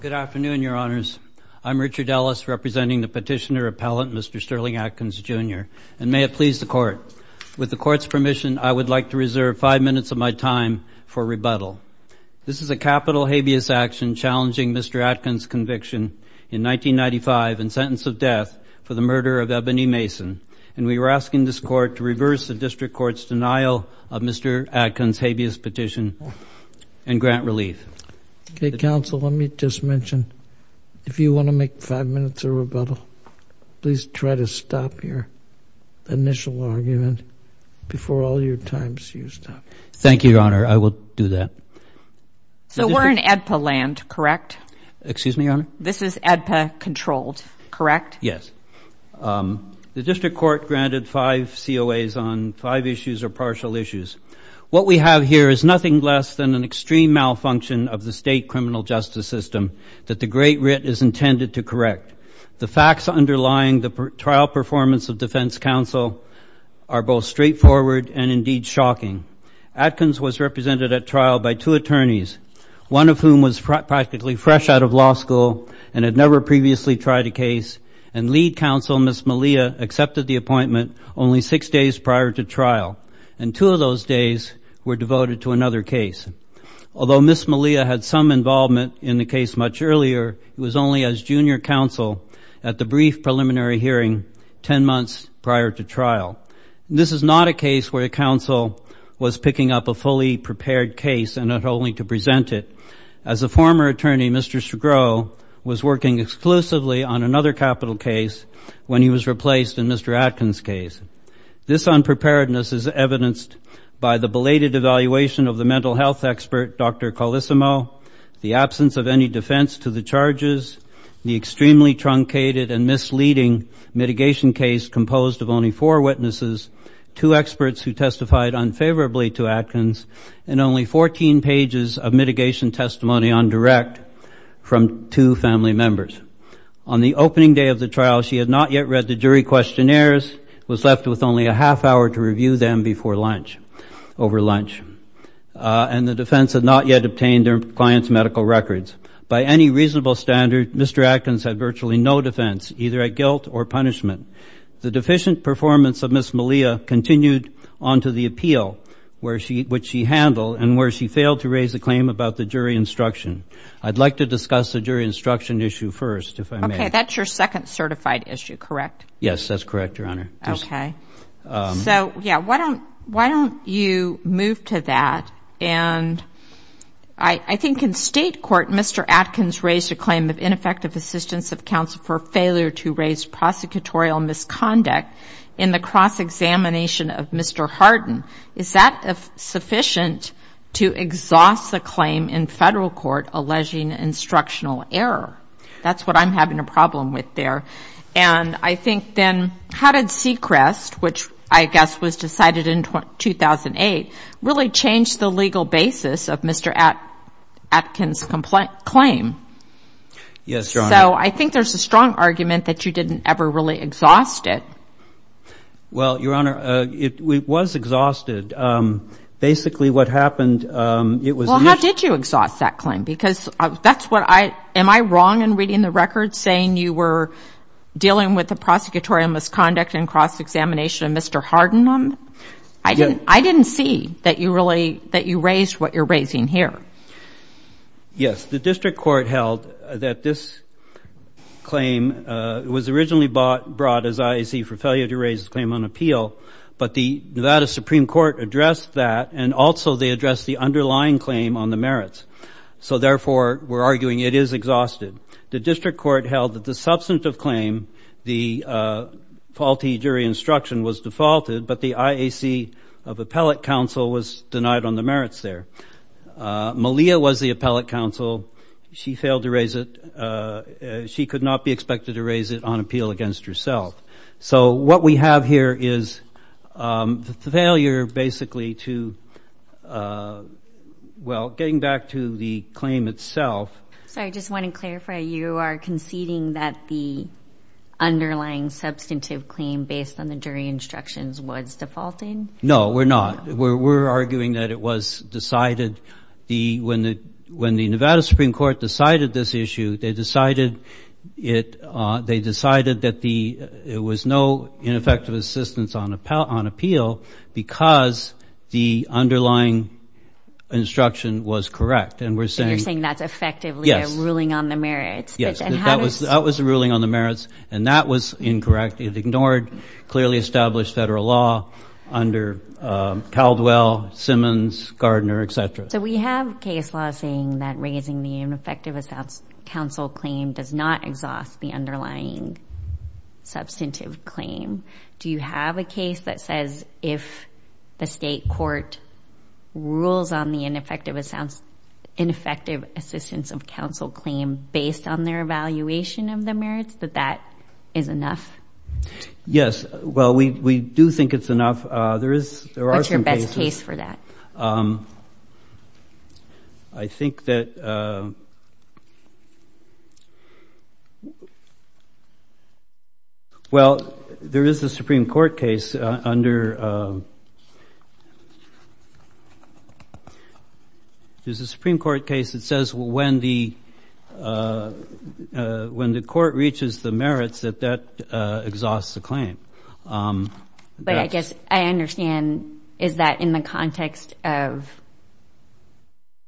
Good afternoon, Your Honors. I'm Richard Ellis, representing the Petitioner-Appellant Mr. Sterling Atkins, Jr., and may it please the Court, with the Court's permission, I would like to reserve five minutes of my time for rebuttal. This is a capital habeas action challenging Mr. Atkins' conviction in 1995 and sentence of death for the murder of Ebony Mason, and we are asking this Court to reverse the District Court's denial of Mr. Atkins' habeas petition and grant relief. Okay, Counsel, let me just mention, if you want to make five minutes of rebuttal, please try to stop your initial argument before all your time is used up. Thank you, Your Honor, I will do that. So we're in ADPA land, correct? Excuse me, Your Honor? This is ADPA-controlled, correct? Yes. The District Court granted five COAs on five issues or partial issues. What we have here is nothing less than an extreme malfunction of the state criminal justice system that the Great Writ is intended to correct. The facts underlying the trial performance of defense counsel are both straightforward and indeed shocking. Atkins was represented at trial by two attorneys, one of whom was practically fresh out of law school and had never previously tried a case, and lead counsel, Ms. Malia, accepted the appointment only six days prior to trial, and two of those days were devoted to another case. Although Ms. Malia had some involvement in the case much earlier, it was only as junior counsel at the brief preliminary hearing ten months prior to trial. This is not a case where a counsel was picking up a fully prepared case and not only to present it. As a former attorney, Mr. Sgro was working exclusively on another capital case when he was replaced in Mr. Atkins' case. This unpreparedness is evidenced by the belated evaluation of the mental health expert, Dr. Colissimo, the absence of any defense to the charges, the extremely truncated and misleading mitigation case composed of only four witnesses, two experts who testified unfavorably to Atkins, and only 14 pages of mitigation testimony on direct from two family members. On the opening day of the trial, she had not yet read the jury questionnaires, was left with only a half hour to review them before lunch, over lunch, and the defense had not yet obtained her client's medical records. By any reasonable standard, Mr. Atkins had virtually no defense, either at guilt or punishment. The deficient performance of Ms. Malia continued on to the appeal, which she handled, and where she failed to raise a claim about the jury instruction. I'd like to discuss the jury instruction issue first, if I may. Okay. That's your second certified issue, correct? Yes, that's correct, Your Honor. Okay. So, yeah, why don't you move to that? And I think in state court, Mr. Atkins raised a claim of ineffective assistance of counsel for failure to raise prosecutorial misconduct in the cross-examination of Mr. Hardin. Is that sufficient to exhaust the claim in federal court alleging instructional error? That's what I'm having a problem with there. And I think then, how did Sechrest, which I guess was decided in 2008, really change the legal basis of Mr. Atkins' complaint claim? Yes, Your Honor. So I think there's a strong argument that you didn't ever really exhaust it. Well, Your Honor, it was exhausted. Basically, what happened, it was... Well, how did you exhaust that claim? Because that's what I... Am I wrong in reading the record saying you were dealing with the prosecutorial misconduct in cross-examination of Mr. Hardin? I didn't see that you raised what you're raising here. Yes, the district court held that this claim was originally brought as IAC for failure to raise the claim on appeal, but the Nevada Supreme Court addressed that, and also they addressed the underlying claim on the merits. So therefore, we're arguing it is exhausted. The district court held that the substantive claim, the faulty jury instruction was defaulted, but the IAC of appellate counsel was denied on the merits there. Malia was the appellate counsel. She failed to raise it. She could not be expected to raise it on appeal against herself. So what we have here is the failure, basically, to... Well, getting back to the claim itself... Sorry, I just want to clarify. You are conceding that the underlying substantive claim based on the jury instructions was defaulting? No, we're not. We're arguing that it was decided... When the Nevada Supreme Court decided this issue, they decided that there was no ineffective assistance on appeal because the underlying instruction was correct, and we're saying... You're saying that's effectively a ruling on the merits. Yes, that was a ruling on the merits, and that was incorrect. It ignored clearly established federal law under Caldwell, Simmons, Gardner, etc. So we have case law saying that raising the ineffective counsel claim does not exhaust the underlying substantive claim. Do you have a case that says if the state court rules on the ineffective assistance of counsel claim based on their evaluation of the merits, that that is enough? Yes. Well, we do think it's enough. There are some cases... What's your best case for that? I think that... Well, there is a Supreme Court case under... There's a Supreme Court case that says when the court reaches the merits, that that exhausts the claim. But I guess I understand, is that in the context of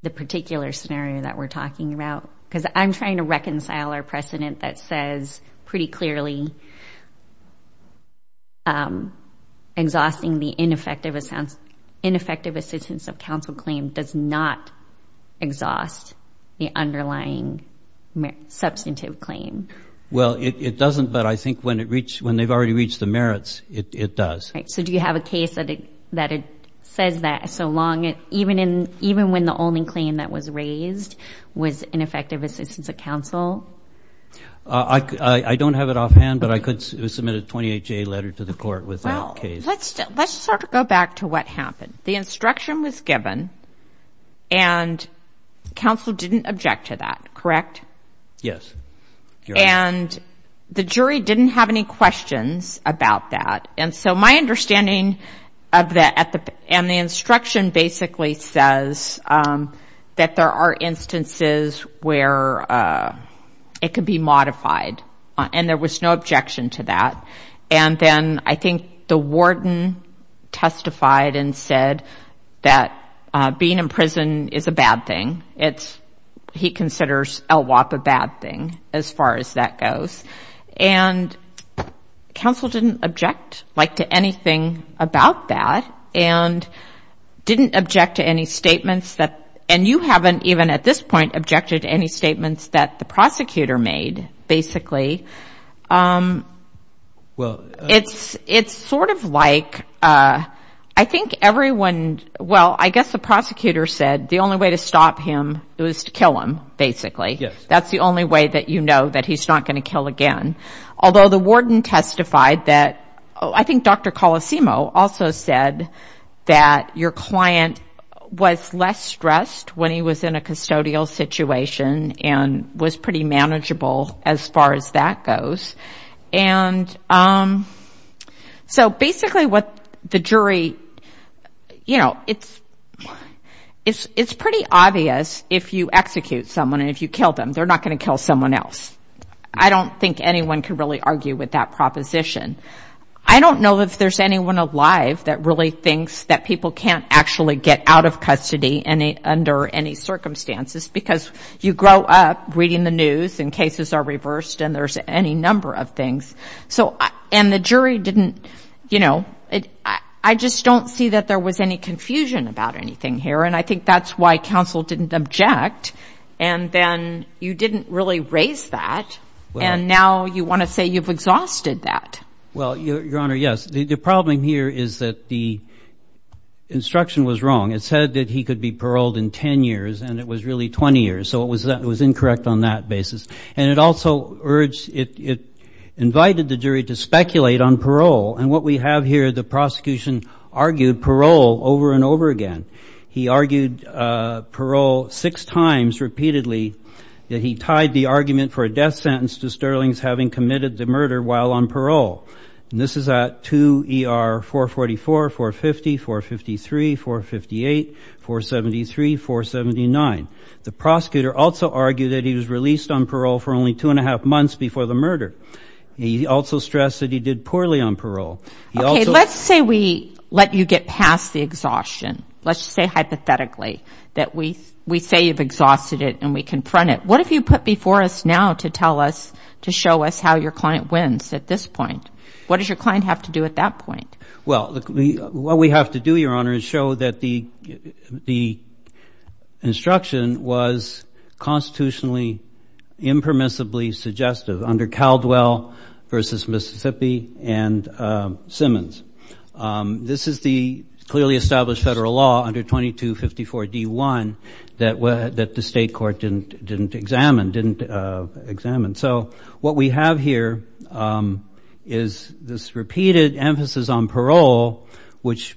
the particular scenario that we're talking about? Because I'm trying to reconcile our precedent that says pretty clearly exhausting the ineffective assistance of counsel claim does not exhaust the underlying substantive claim. Well, it doesn't, but I think when they've already reached the merits, it does. Right. So do you have a case that says that so long, even when the only claim that was raised was ineffective assistance of counsel? I don't have it offhand, but I could submit a 28-J letter to the court with that case. Well, let's sort of go back to what happened. The instruction was given, and counsel didn't object to that, correct? Yes. And the jury didn't have any questions about that. And so my understanding of that... And the instruction basically says that there are instances where it can be modified, and there was no objection to that. And then I think the warden testified and said that being in prison is a bad thing. He considers LWOP a bad thing, as far as that goes. And counsel didn't object to anything about that, and didn't object to any statements that... And you haven't even, at this point, objected to any statements that the prosecutor made, basically. It's sort of like... I think everyone... Well, I guess the prosecutor said the only way to stop him was to kill him, basically. Yes. That's the only way that you know that he's not going to kill again. Although the warden testified that... I think Dr. Colosimo also said that your client was less stressed when he was in a custodial situation, and was pretty manageable, as far as that goes. So basically what the jury... It's pretty obvious if you execute someone and if you kill them, they're not going to kill someone else. I don't think anyone can really argue with that proposition. I don't know if there's anyone alive that really thinks that people can't actually get out of custody under any circumstances, because you grow up reading the news, and cases are reversed, and there's any number of things. And the jury didn't... I just don't see that there was any confusion about anything here, and I think that's why counsel didn't object, and then you didn't really raise that, and now you want to say you've exhausted that. Well, Your Honor, yes. The problem here is that the instruction was wrong. It said that he could be paroled in 10 years, and it was really 20 years, so it was incorrect on that basis. And it also urged... It invited the jury to speculate on parole, and what we have here, the prosecution argued parole over and over again. He argued parole six times repeatedly that he tied the argument for a death sentence to Sterling's having committed the murder while on parole. And this is at 2 ER 444, 450, 453, 458, 473, 479. The prosecutor also argued that he was released on parole for only two and a half months before the murder. He also stressed that he did poorly on parole. Okay, let's say we let you get past the exhaustion. Let's say hypothetically that we say you've exhausted it and we confront it. What have you put before us now to tell us, to show us how your client wins at this point? What does your client have to do at that point? Well, what we have to do, Your Honor, is show that the instruction was constitutionally impermissibly suggestive under Caldwell versus Mississippi and Simmons. This is the clearly established federal law under 2254 D1 that the state court didn't examine. So what we have here is this repeated emphasis on parole, which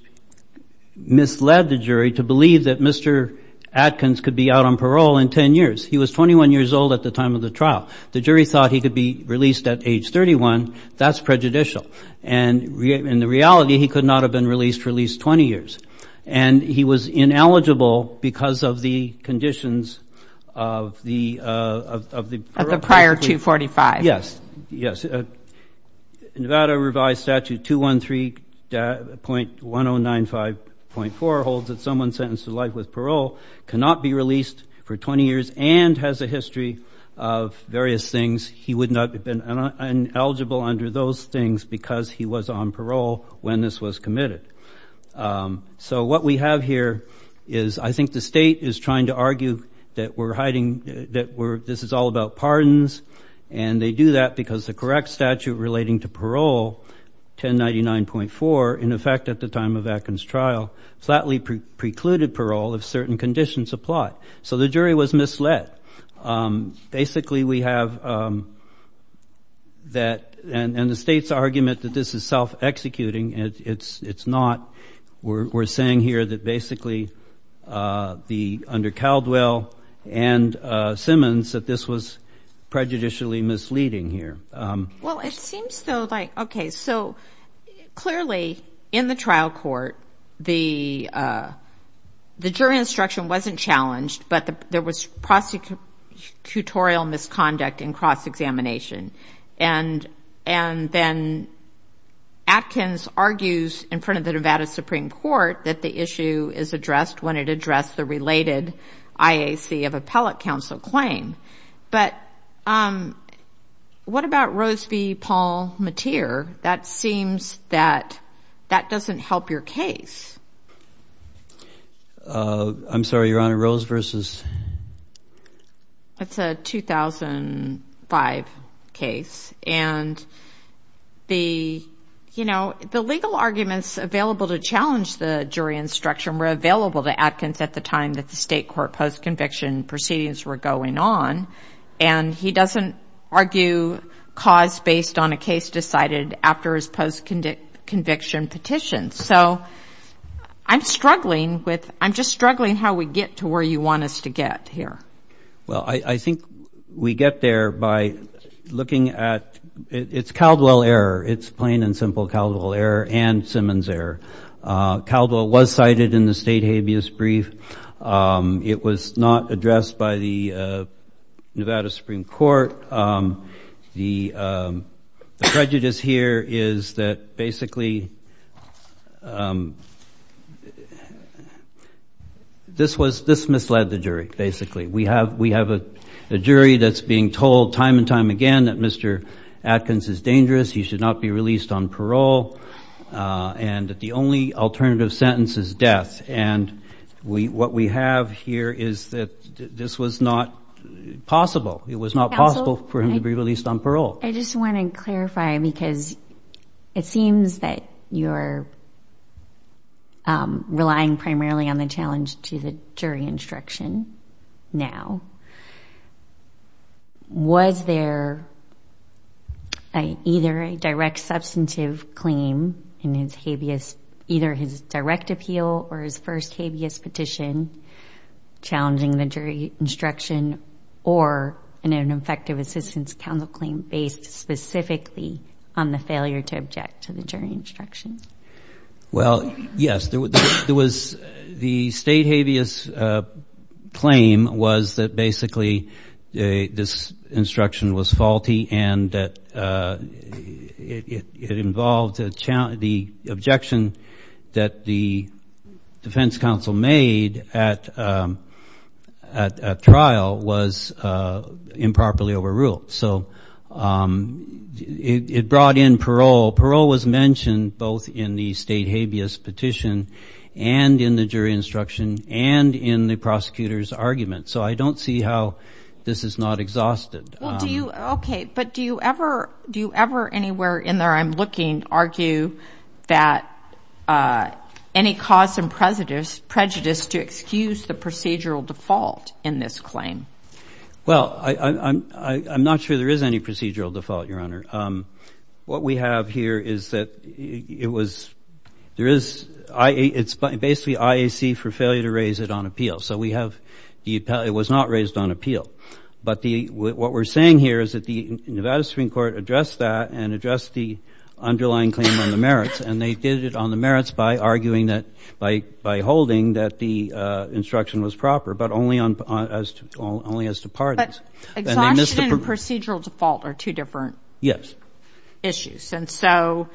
misled the jury to believe that Mr. Adkins could be out on parole in 10 years. He was 21 years old at the time of the trial. The jury thought he could be released at age 31. That's prejudicial. And in reality, he could not have been released for at least 20 years. And he was ineligible because of the conditions of the prior 245. Yes, yes. Nevada revised statute 213.1095.4 holds that someone sentenced to life with parole cannot be released for 20 years and has a history of various things. He would not have been ineligible under those things because he was on parole when this was committed. So what we have here is I think the state is trying to argue that we're hiding, that this is all about pardons. And they do that because the correct statute relating to parole, 1099.4, in effect at the time of Adkins' trial, flatly precluded parole if certain conditions apply. So the jury was misled. Basically, we have that. And the state's argument that this is self-executing, it's not. We're saying here that basically under Caldwell and Simmons that this was prejudicially misleading here. Well it seems though like, okay, so clearly in the trial court the jury instruction wasn't challenged but there was prosecutorial misconduct in cross-examination. And then Adkins argues in front of the Nevada Supreme Court that the issue is addressed when it addressed the related IAC of appellate counsel claim. But what about Rose v. Paul Mateer? That seems that that doesn't help your case. I'm sorry, Your Honor, Rose versus? It's a 2005 case. And the legal arguments available to challenge the jury instruction were available to Adkins at the time that the state court post-conviction proceedings were going on. And he doesn't argue cause based on a case decided after his post-conviction petition. So I'm struggling with, I'm just struggling how we get to where you want us to get here. Well, I think we get there by looking at, it's Caldwell error. It's plain and simple Caldwell error and Simmons error. Caldwell was cited in the state habeas brief. It was not addressed by the Nevada Supreme Court. The prejudice here is that basically this was, this misled the jury basically. We have a jury that's being told time and time again that Mr. Adkins is dangerous. He should not be released on parole. And the only alternative sentence is death. And we, what we have here is that this was not possible. It was not possible for him to be released on parole. I just want to clarify because it seems that you're relying primarily on the challenge to the jury instruction now. Was there a, either a judge or a jury that direct substantive claim in his habeas, either his direct appeal or his first habeas petition challenging the jury instruction or an effective assistance counsel claim based specifically on the failure to object to the jury instruction? Well, yes, there was the state habeas claim was that basically this instruction was faulty and that it involved the objection that the defense counsel made at trial was improperly overruled. So it brought in parole. Parole was mentioned both in the state habeas petition and in the jury instruction and in the prosecutor's argument. So I don't see how this is not exhausted. Okay. But do you ever, do you ever anywhere in there I'm looking argue that any cause and prejudice to excuse the procedural default in this claim? Well, I'm not sure there is any procedural default, Your Honor. What we have here is that it was, there is, it's basically IAC for failure to raise it on appeal. So we have the, it was not raised on appeal. But the, what we're saying here is that the Nevada Supreme Court addressed that and addressed the underlying claim on the merits and they did it on the merits by arguing that by, by holding that the instruction was proper, but only on, only as to pardons. But exhaustion and procedural default are two different issues. Yes. And so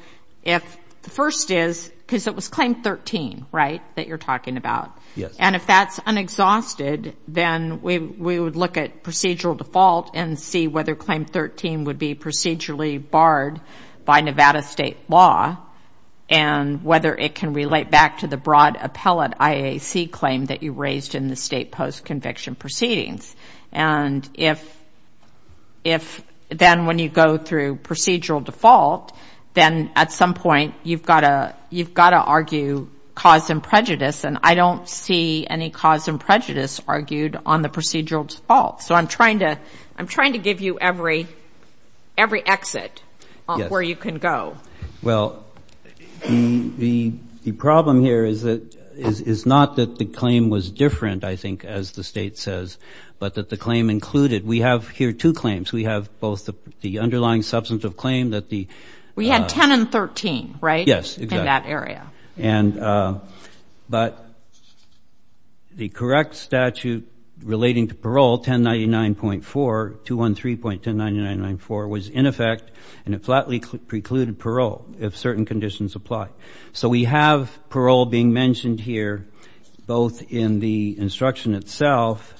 if the first is, because it was claim 13, right, that you're talking about. Yes. And if that's unexhausted, then we, we would look at procedural default and see whether claim 13 would be procedurally barred by Nevada state law and whether it can relate back to the broad appellate IAC claim that you raised in the state post-conviction proceedings. And if, if then when you go through procedural default, then at some point you've got to, you've got to argue cause and prejudice. And I don't see any cause and prejudice argued on the procedural default. So I'm trying to, I'm trying to give you every, every exit where you can go. Well, the, the, the problem here is that, is, is not that the claim was different, I think, as the state says, but that the claim included, we have here two claims. We have both the underlying substantive claim that the... We had 10 and 13, right? Yes. In that area. And, but the correct statute relating to parole, 1099.4, 213.10994, was in effect, and it flatly precluded parole if certain conditions apply. So we have parole being mentioned here, both in the instruction itself,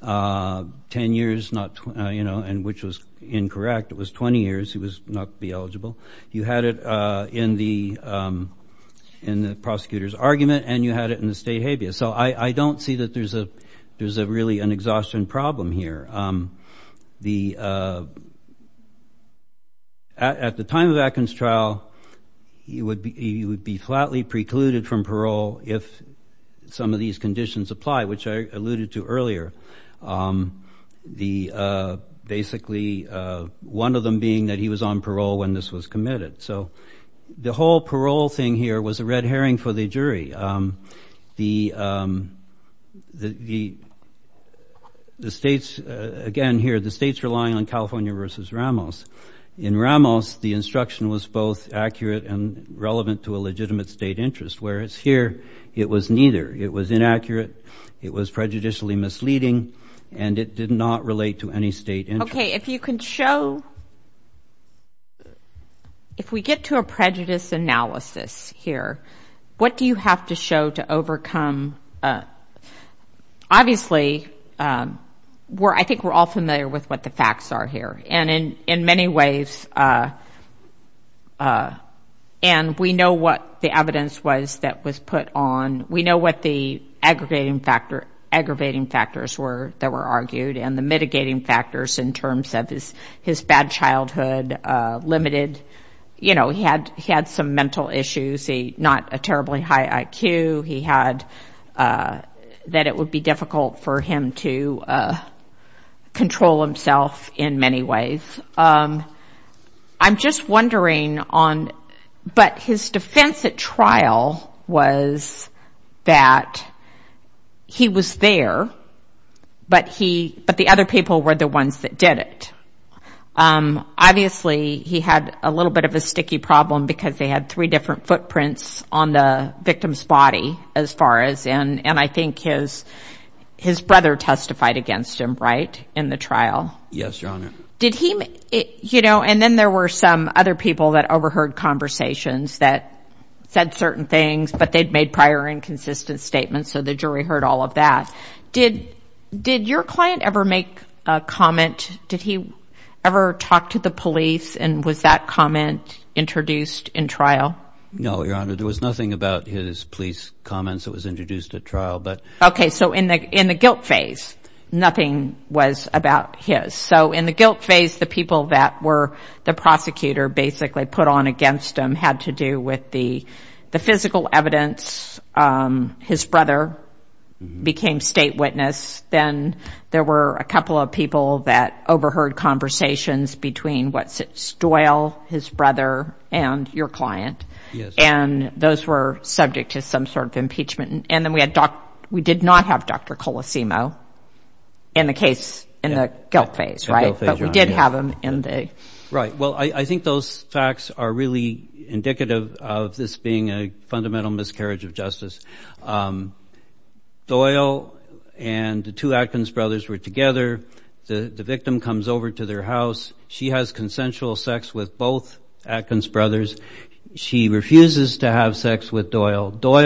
10 years, not, you know, and which was, which was incorrect. It was 20 years. He was not to be eligible. You had it in the, in the prosecutor's argument and you had it in the state habeas. So I, I don't see that there's a, there's a really an exhaustion problem here. The, at, at the time of Atkin's trial, he would be, he would be flatly precluded from parole if some of these conditions apply, which I alluded to earlier. The, basically, one of them being that he was on parole when this was committed. So the whole parole thing here was a red herring for the jury. The, the, the states, again, here, the states relying on California versus Ramos. In Ramos, the instruction was both accurate and relevant to a legitimate state interest. Whereas here, it was neither. It was inaccurate. It was prejudicially misleading. And it did not relate to any state interest. Okay. If you can show, if we get to a prejudice analysis here, what do you have to show to overcome? Obviously, we're, I think we're all familiar with what the facts are here and in, in many ways. And we know what the evidence was that was put forth by the state on, we know what the aggregating factor, aggravating factors were that were argued and the mitigating factors in terms of his, his bad childhood, limited, you know, he had, he had some mental issues. He, not a terribly high IQ. He had, that it would be difficult for him to control himself in many ways. I'm just wondering on, but his defense at trial was that he was there, but he, but the other people were the ones that did it. Obviously, he had a little bit of a sticky problem because they had three different footprints on the victim's body as far as, and, and I think his, his brother testified against him, right, in the trial. Yes, Your Honor. Did he, you know, and then there were some other people that overheard conversations that said certain things, but they'd made prior inconsistent statements. So the jury heard all of that. Did, did your client ever make a comment? Did he ever talk to the police and was that comment introduced in trial? No, Your Honor. There was nothing about his police comments that was introduced at trial, but... Okay. So in the, in the guilt phase, nothing was about his. So in the guilt phase, the people that were the prosecutor basically put on against him had to do with the, the physical evidence. His brother became state witness. Then there were a couple of people that overheard conversations between, what's it, Doyle, his brother, and your client, and those were subject to some sort of impeachment. And then we had doc, we did not have Dr. Colosimo in the case, in the guilt phase, right? In the guilt phase, Your Honor, yeah. But we did have him in the... Right. Well, I, I think those facts are really indicative of this being a fundamental miscarriage of justice. Doyle and the two Atkins brothers were together. The, the victim comes over to their house. She has consensual sex with both Atkins brothers. She refuses to have sex. Doyle's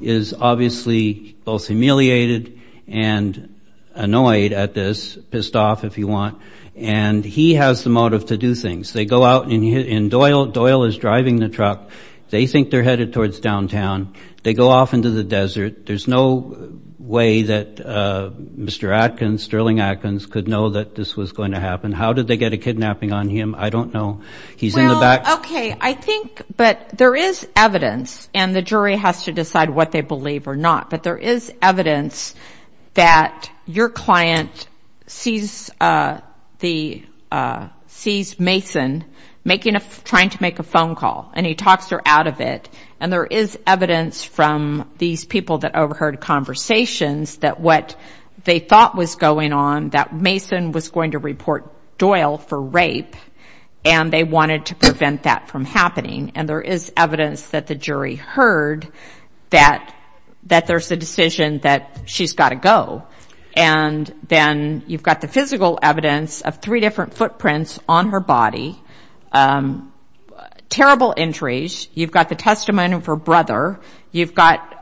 humiliated and annoyed at this. Pissed off, if you want. And he has the motive to do things. They go out and Doyle, Doyle is driving the truck. They think they're headed towards downtown. They go off into the desert. There's no way that Mr. Atkins, Sterling Atkins could know that this was going to happen. How did they get a kidnapping on him? I don't know. He's in the back... Well, okay. I think, but there is evidence and the jury has to decide what they believe or not. But there is evidence that your client sees the, sees Mason making a, trying to make a phone call and he talks her out of it. And there is evidence from these people that overheard conversations that what they thought was going on, that Mason was going to report Doyle for rape and they wanted to prevent that from happening. And there is evidence that the jury heard that, that there's a decision that she's got to go. And then you've got the physical evidence of three different footprints on her body. Terrible injuries. You've got the testimony of her brother. You've got,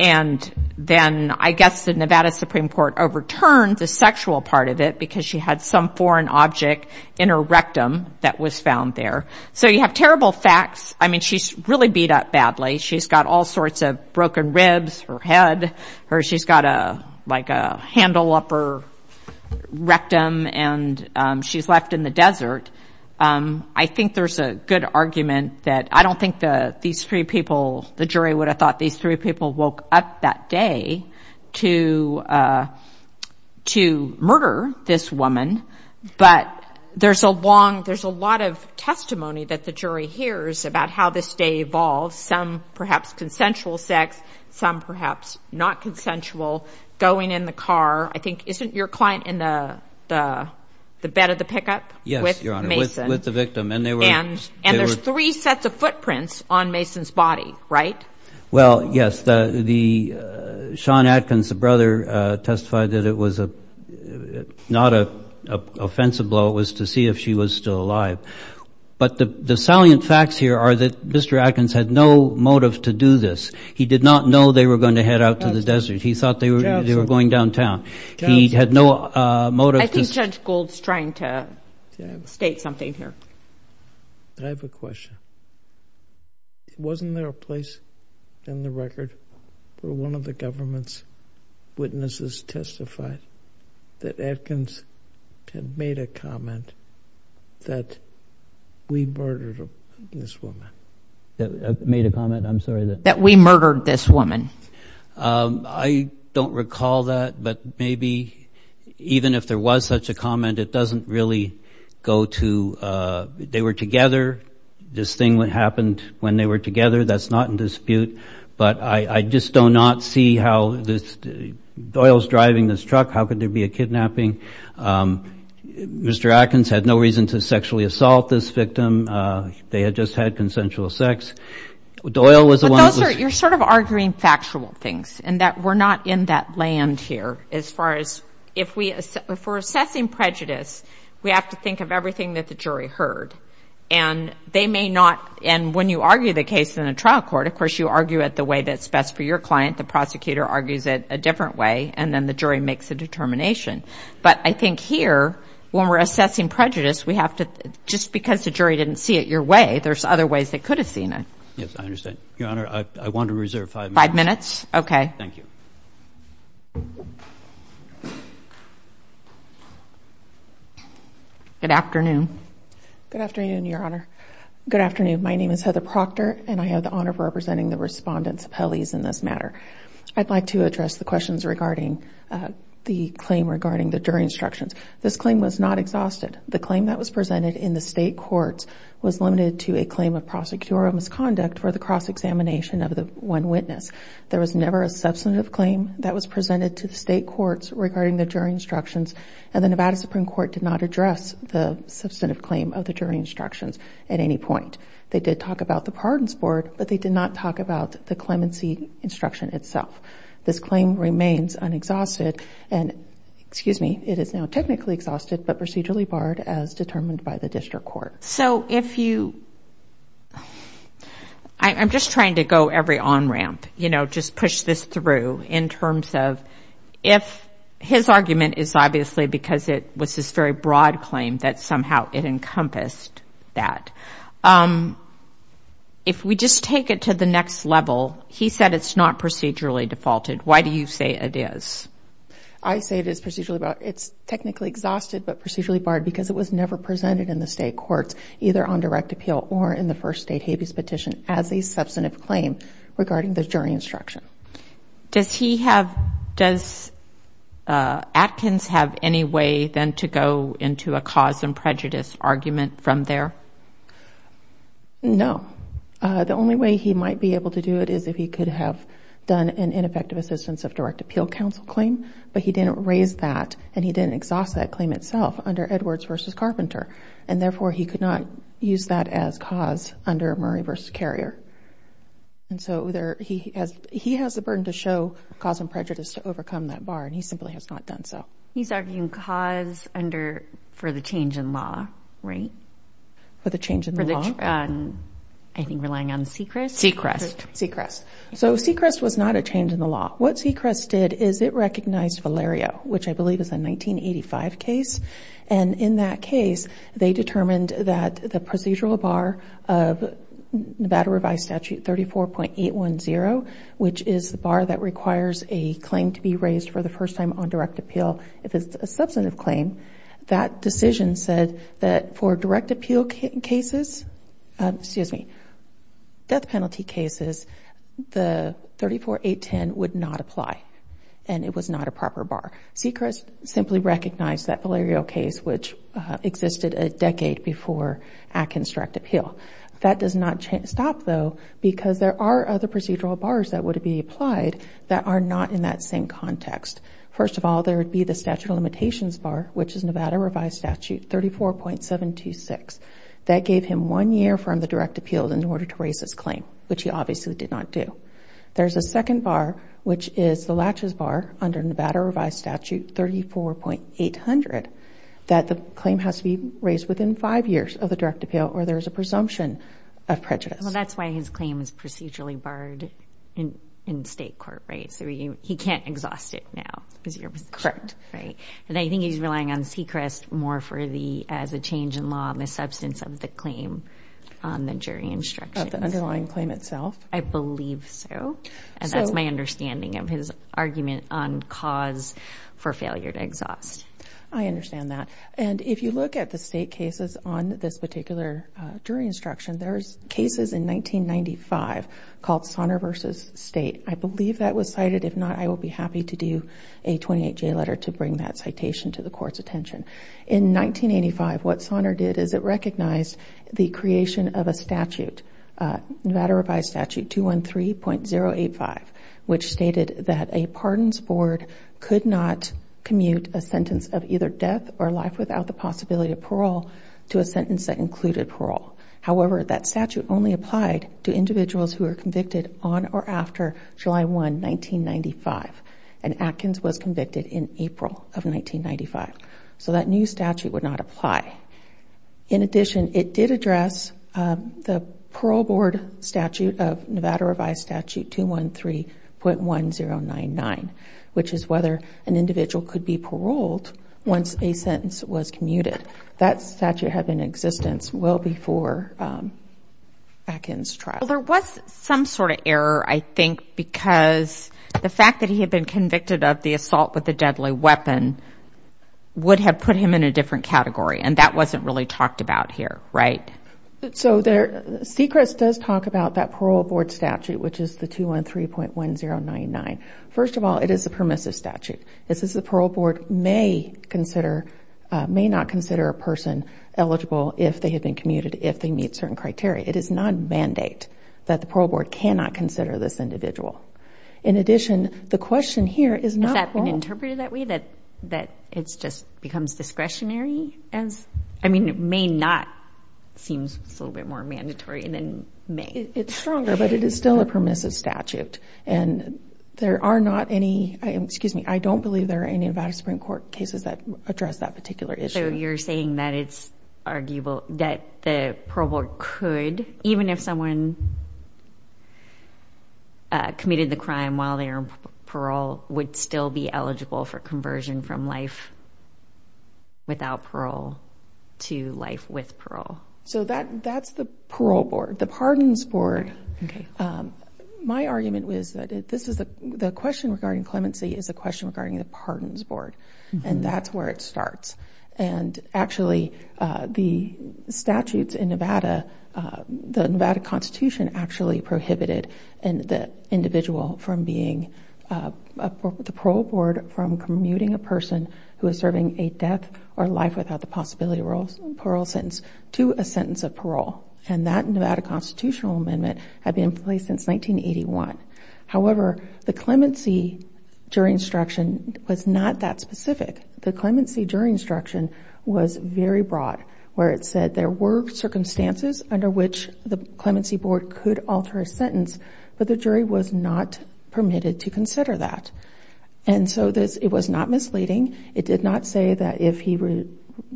and then I guess the Nevada Supreme Court overturned the sexual part of it because she had some foreign object in her rectum that was found there. So you have terrible facts. I mean, she's really beat up badly. She's got all sorts of broken ribs, her head, her, she's got a, like a handle up her rectum and she's left in the desert. I think there's a good argument that I don't think that these three people, the jury would have thought these three people woke up that day to, uh, to murder this woman. But there's a long, there's a lot of testimony that the jury hears about how this day evolves. Some perhaps consensual sex, some perhaps not consensual going in the car. I think, isn't your client in the, the, the bed of the pickup? Yes, Your Honor, with the victim. And there's three sets of footprints on Mason's body, right? Well, yes, the, the, Sean Atkins, the brother, uh, testified that it was a, not a offensive blow. It was to see if she was still alive. But the, the salient facts here are that Mr. Atkins had no motive to do this. He did not know they were going to head out to the desert. He thought they were, they were going downtown. He had no motive. I think Judge Gould's trying to state something here. I have a question. Wasn't there a point in the record where one of the government's witnesses testified that Atkins had made a comment that we murdered this woman? Made a comment, I'm sorry, that... That we murdered this woman. Um, I don't recall that, but maybe even if there was such a comment, it doesn't really go to, uh, they were together. This thing that happened when they were together. That's not in dispute. But I, I just do not see how this, Doyle's driving this truck. How could there be a kidnapping? Um, Mr. Atkins had no reason to sexually assault this victim. Uh, they had just had consensual sex. Doyle was the one... But those are, you're sort of arguing factual things and that we're not in that land here as far as if we, if we're assessing prejudice, we have to think of everything that the jury heard. And they may not, and when you argue the case in a trial court, of course you argue it the way that's best for your client. The prosecutor argues it a different way, and then the jury makes a determination. But I think here, when we're assessing prejudice, we have to, just because the jury didn't see it your way, there's other ways they could have seen it. Yes, I understand. Your Honor, I, I want to reserve five minutes. Five minutes? Okay. Thank you. Good afternoon. Good afternoon, Your Honor. Good afternoon. My name is Heather Proctor, and I have the honor of representing the Respondent's Appellees in this matter. I'd like to address the questions regarding, uh, the claim regarding the jury instructions. This claim was not exhausted. The claim that was presented in the state courts was limited to a claim of prosecutorial misconduct for the cross-examination of the one witness. There was never a substantive claim that was presented to the state courts regarding the jury instructions, and the Nevada Supreme Court did not address the substantive claim of the jury instructions at any point. They did talk about the pardons board, but they did not talk about the clemency instruction itself. This claim remains unexhausted, and, excuse me, it is now technically exhausted, but procedurally barred as determined by the district court. So if you, I, I'm just trying to go every on-ramp, you know, just push this through in terms of if his argument is obviously because it was this very broad claim that somehow it encompassed that. Um, if we just take it to the next level, he said it's not procedurally defaulted. Why do you say it is? I say it is procedurally, but it's technically exhausted but procedurally barred because it was never presented in the state courts either on direct appeal or in the first state habeas petition as a substantive claim regarding the jury instruction. Does he have, does, uh, Atkins have any way then to go into a cause and prejudice argument from there? No. Uh, the only way he might be able to do it is if he could have done an ineffective assistance of direct appeal counsel claim, but he didn't raise that and he didn't exhaust that claim itself under Edwards versus Carpenter, and therefore he could not use that as cause under Murray versus Carrier. And so there, he has, he has the burden to show cause and prejudice to overcome that bar and he simply has not done so. He's arguing cause under, for the change in law, right? For the change in law? For the, um, I think relying on Sechrest? Sechrest. Sechrest. So Sechrest was not a change in the law. What Sechrest did is it recognized Valerio, which I believe is a 1985 case, and in that case, they determined that the procedural bar of Nevada Revised Statute 34.810, which is the bar that requires a claim to be raised for the first time on direct appeal, if it's a substantive claim, that decision said that for direct appeal cases, excuse me, death penalty cases, the 34.810 would not apply and it was not a proper bar. Sechrest simply recognized that Valerio case, which existed a decade before Atkins Direct Appeal. That does not stop though, because there are other procedural bars that would be applied that are not in that same context. First of all, there would be the statute of limitations bar, which is Nevada Revised Statute 34.726. That gave him one year from the direct appeal in order to raise his claim, which he obviously did not do. There's a second bar, which is the latches bar under Nevada Revised Statute 34.800, that the claim has to be raised within five years of the direct appeal or there's a presumption of prejudice. Well, that's why his claim is procedurally barred in state court, right? So he can't exhaust it now, is your position? Correct. Right. And I think he's relying on Sechrest more for the, as a change in law, in the substance of the claim on the jury instructions. Of the underlying claim itself. I believe so. And that's my understanding of his argument on cause for failure to exhaust. I understand that. And if you look at the state cases on this particular jury instruction, there's cases in 1995 called Sonner v. State. I believe that was cited. If not, I will be happy to do a 28-J letter to bring that citation to the court's attention. In 1985, what Sonner did is it recognized the creation of a statute, Nevada Revised Statute 213.085, which stated that a pardons board could not commute a sentence of either death or life without the possibility of parole to a sentence that included parole. However, that statute only applied to individuals who were convicted on or after July 1, 1995. And Atkins was convicted in April of 1995. So that new statute would not apply. In addition, it did address the parole board statute of Nevada Revised Statute 213.1099, which is whether an individual could be paroled once a sentence was commuted. That statute had been in existence well before Atkins' trial. Well, there was some sort of error, I think, because the fact that he had been convicted of the assault with a deadly weapon would have put him in a different category, and that wasn't really talked about here, right? So Secrets does talk about that parole board statute, which is the 213.1099. First of all, it is a permissive statute. This is the parole board may consider, may not consider a person eligible if they had been commuted, if they meet certain criteria. It is not a mandate that the parole board cannot consider this individual. In addition, the question here is not... Has that been interpreted that way, that it just becomes discretionary? I mean, it may not seem a little bit more mandatory than may. It's stronger, but it is still a permissive statute. And there are not any, excuse me, I don't believe there are any Nevada Supreme Court cases that address that particular issue. So you're saying that it's arguable that the parole board could, even if someone committed the crime while they were in parole, would still be eligible for conversion from life without parole to life with parole? So that's the parole board, the pardons board. My argument is that this is the question regarding the clemency is the question regarding the pardons board. And that's where it starts. And actually, the statutes in Nevada, the Nevada Constitution actually prohibited the individual from being, the parole board from commuting a person who is serving a death or life without the possibility of parole sentence to a sentence of parole. And that Nevada Constitutional Amendment had been in place since 1981. However, the clemency jury instruction was not that specific. The clemency jury instruction was very broad, where it said there were circumstances under which the clemency board could alter a sentence, but the jury was not permitted to consider that. And so it was not misleading. It did not say that if he were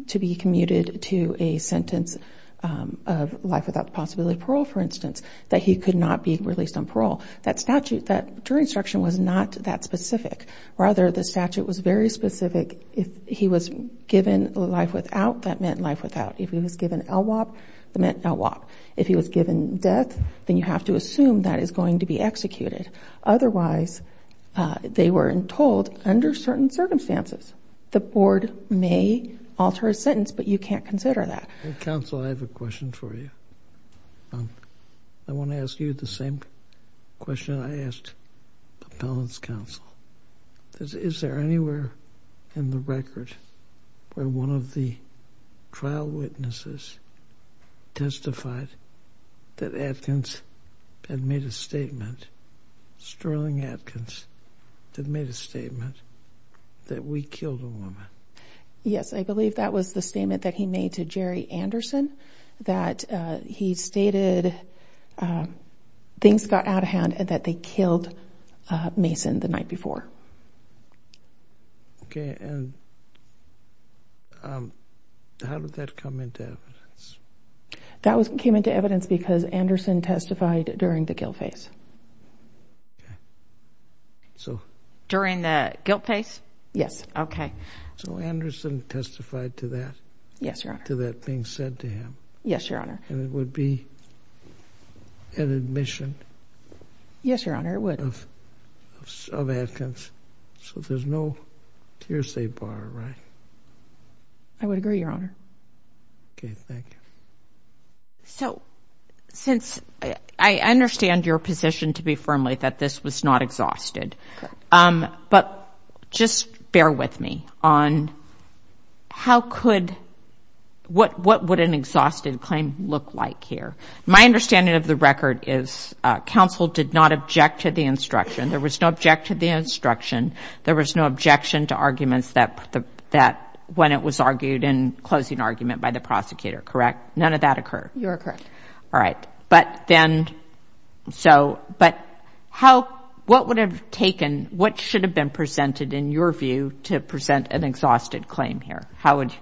to be commuted to a sentence of life without the possibility of parole, for instance, that he could not be released on parole. That statute, that jury instruction was not that specific. Rather, the statute was very specific. If he was given life without, that meant life without. If he was given LWOP, that meant LWOP. If he was given death, then you have to assume that is going to be executed. Otherwise, they were told, under certain circumstances, the board may alter a sentence, but you can't consider that. Well, counsel, I have a question for you. I want to ask you the same question I asked the appellant's counsel. Is there anywhere in the record where one of the trial witnesses testified that Atkins had made a statement, Sterling Atkins, that made a statement that we killed a woman? Yes, I believe that was the statement that he made to Jerry Anderson, that he stated things got out of hand and that they killed Mason the night before. Okay, and how did that come into evidence? That came into evidence because Anderson testified during the guilt phase. During the guilt phase? Yes. Okay. So, Anderson testified to that? Yes, Your Honor. To that being said to him? Yes, Your Honor. And it would be an admission? Yes, Your Honor, it would. Of Atkins, so there's no hearsay bar, right? I would agree, Your Honor. Okay, thank you. So, since I understand your position to be firmly that this was not exhausted, but just bear with me on how could, what would an exhausted claim look like here? My understanding of the record is counsel did not object to the instruction. There was no object to the instruction. There was no objection to arguments that, when it was argued in closing argument by the prosecutor, correct? None of that occurred? You are correct. All right. But then, so, but how, what would have taken, what should have been presented in your view to present an exhausted claim here? How would?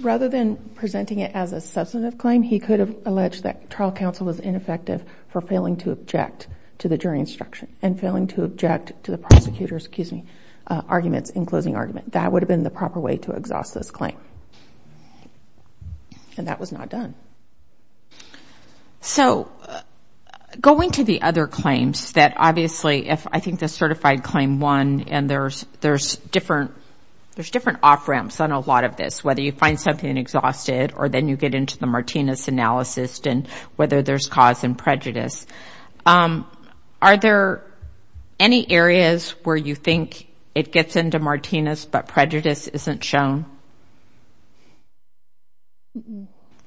Rather than presenting it as a substantive claim, he could have alleged that trial counsel was ineffective for failing to object to the jury instruction and failing to object to the prosecutor's, excuse me, arguments in closing argument. That would have been the proper way to exhaust this claim. And that was not done. So, going to the other claims that obviously, if I think the certified claim won and there's different, there's different off ramps on a lot of this, whether you find something exhausted or then you get into the Martinez analysis and whether there's cause and prejudice. Are there any areas where you think it gets into Martinez but prejudice isn't shown?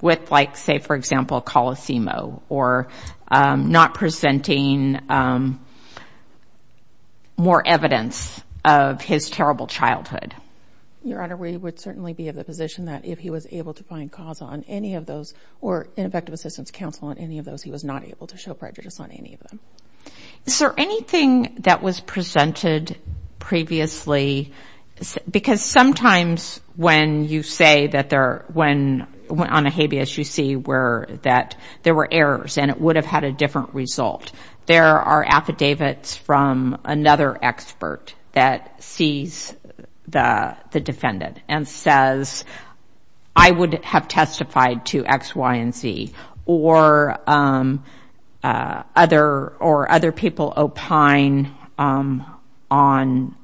With like, say for example, Colosimo or not presenting more evidence of his terrible childhood. Your Honor, we would certainly be of the position that if he was able to find cause on any of those or ineffective assistance counsel on any of those, he was not able to show prejudice on any of them. Is there anything that was presented previously? Because sometimes when you say that there, when on a habeas you see where that there were errors and it would have had a different result. There are affidavits from another expert that sees the defendant and says, I would have testified to X, Y, and Z or other people opine on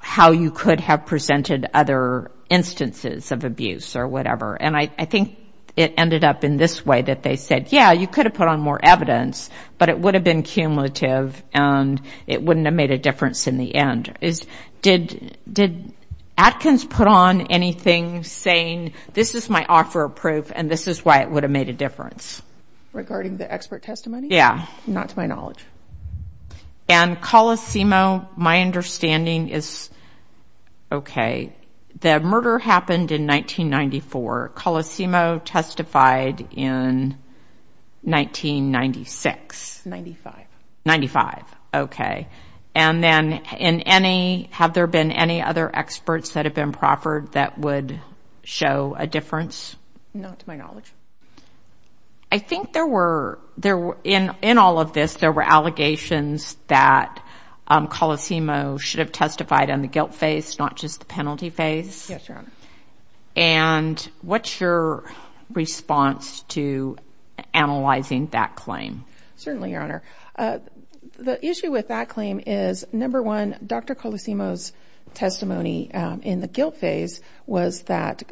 how you could have presented other instances of abuse or whatever. And I think it ended up in this way that they said, yeah, you could have put on more evidence, but it would have been cumulative and it wouldn't have made a difference in the end. Did Atkins put on anything saying, this is my offer of proof and this is why it would have made a difference? Regarding the expert testimony? Yeah. Not to my knowledge. And Colosimo, my understanding is, okay, the murder happened in 1994, Colosimo testified in 1996. 95. 95, okay. And then in any, have there been any other experts that have been proffered that would show a difference? Not to my knowledge. I think there were, in all of this, there were allegations that Colosimo should have testified on the guilt phase, not just the penalty phase. Yes, Your Honor. And what's your response to analyzing that claim? Certainly, Your Honor. The issue with that claim is, number one, Dr. Colosimo's testimony in the guilt phase was that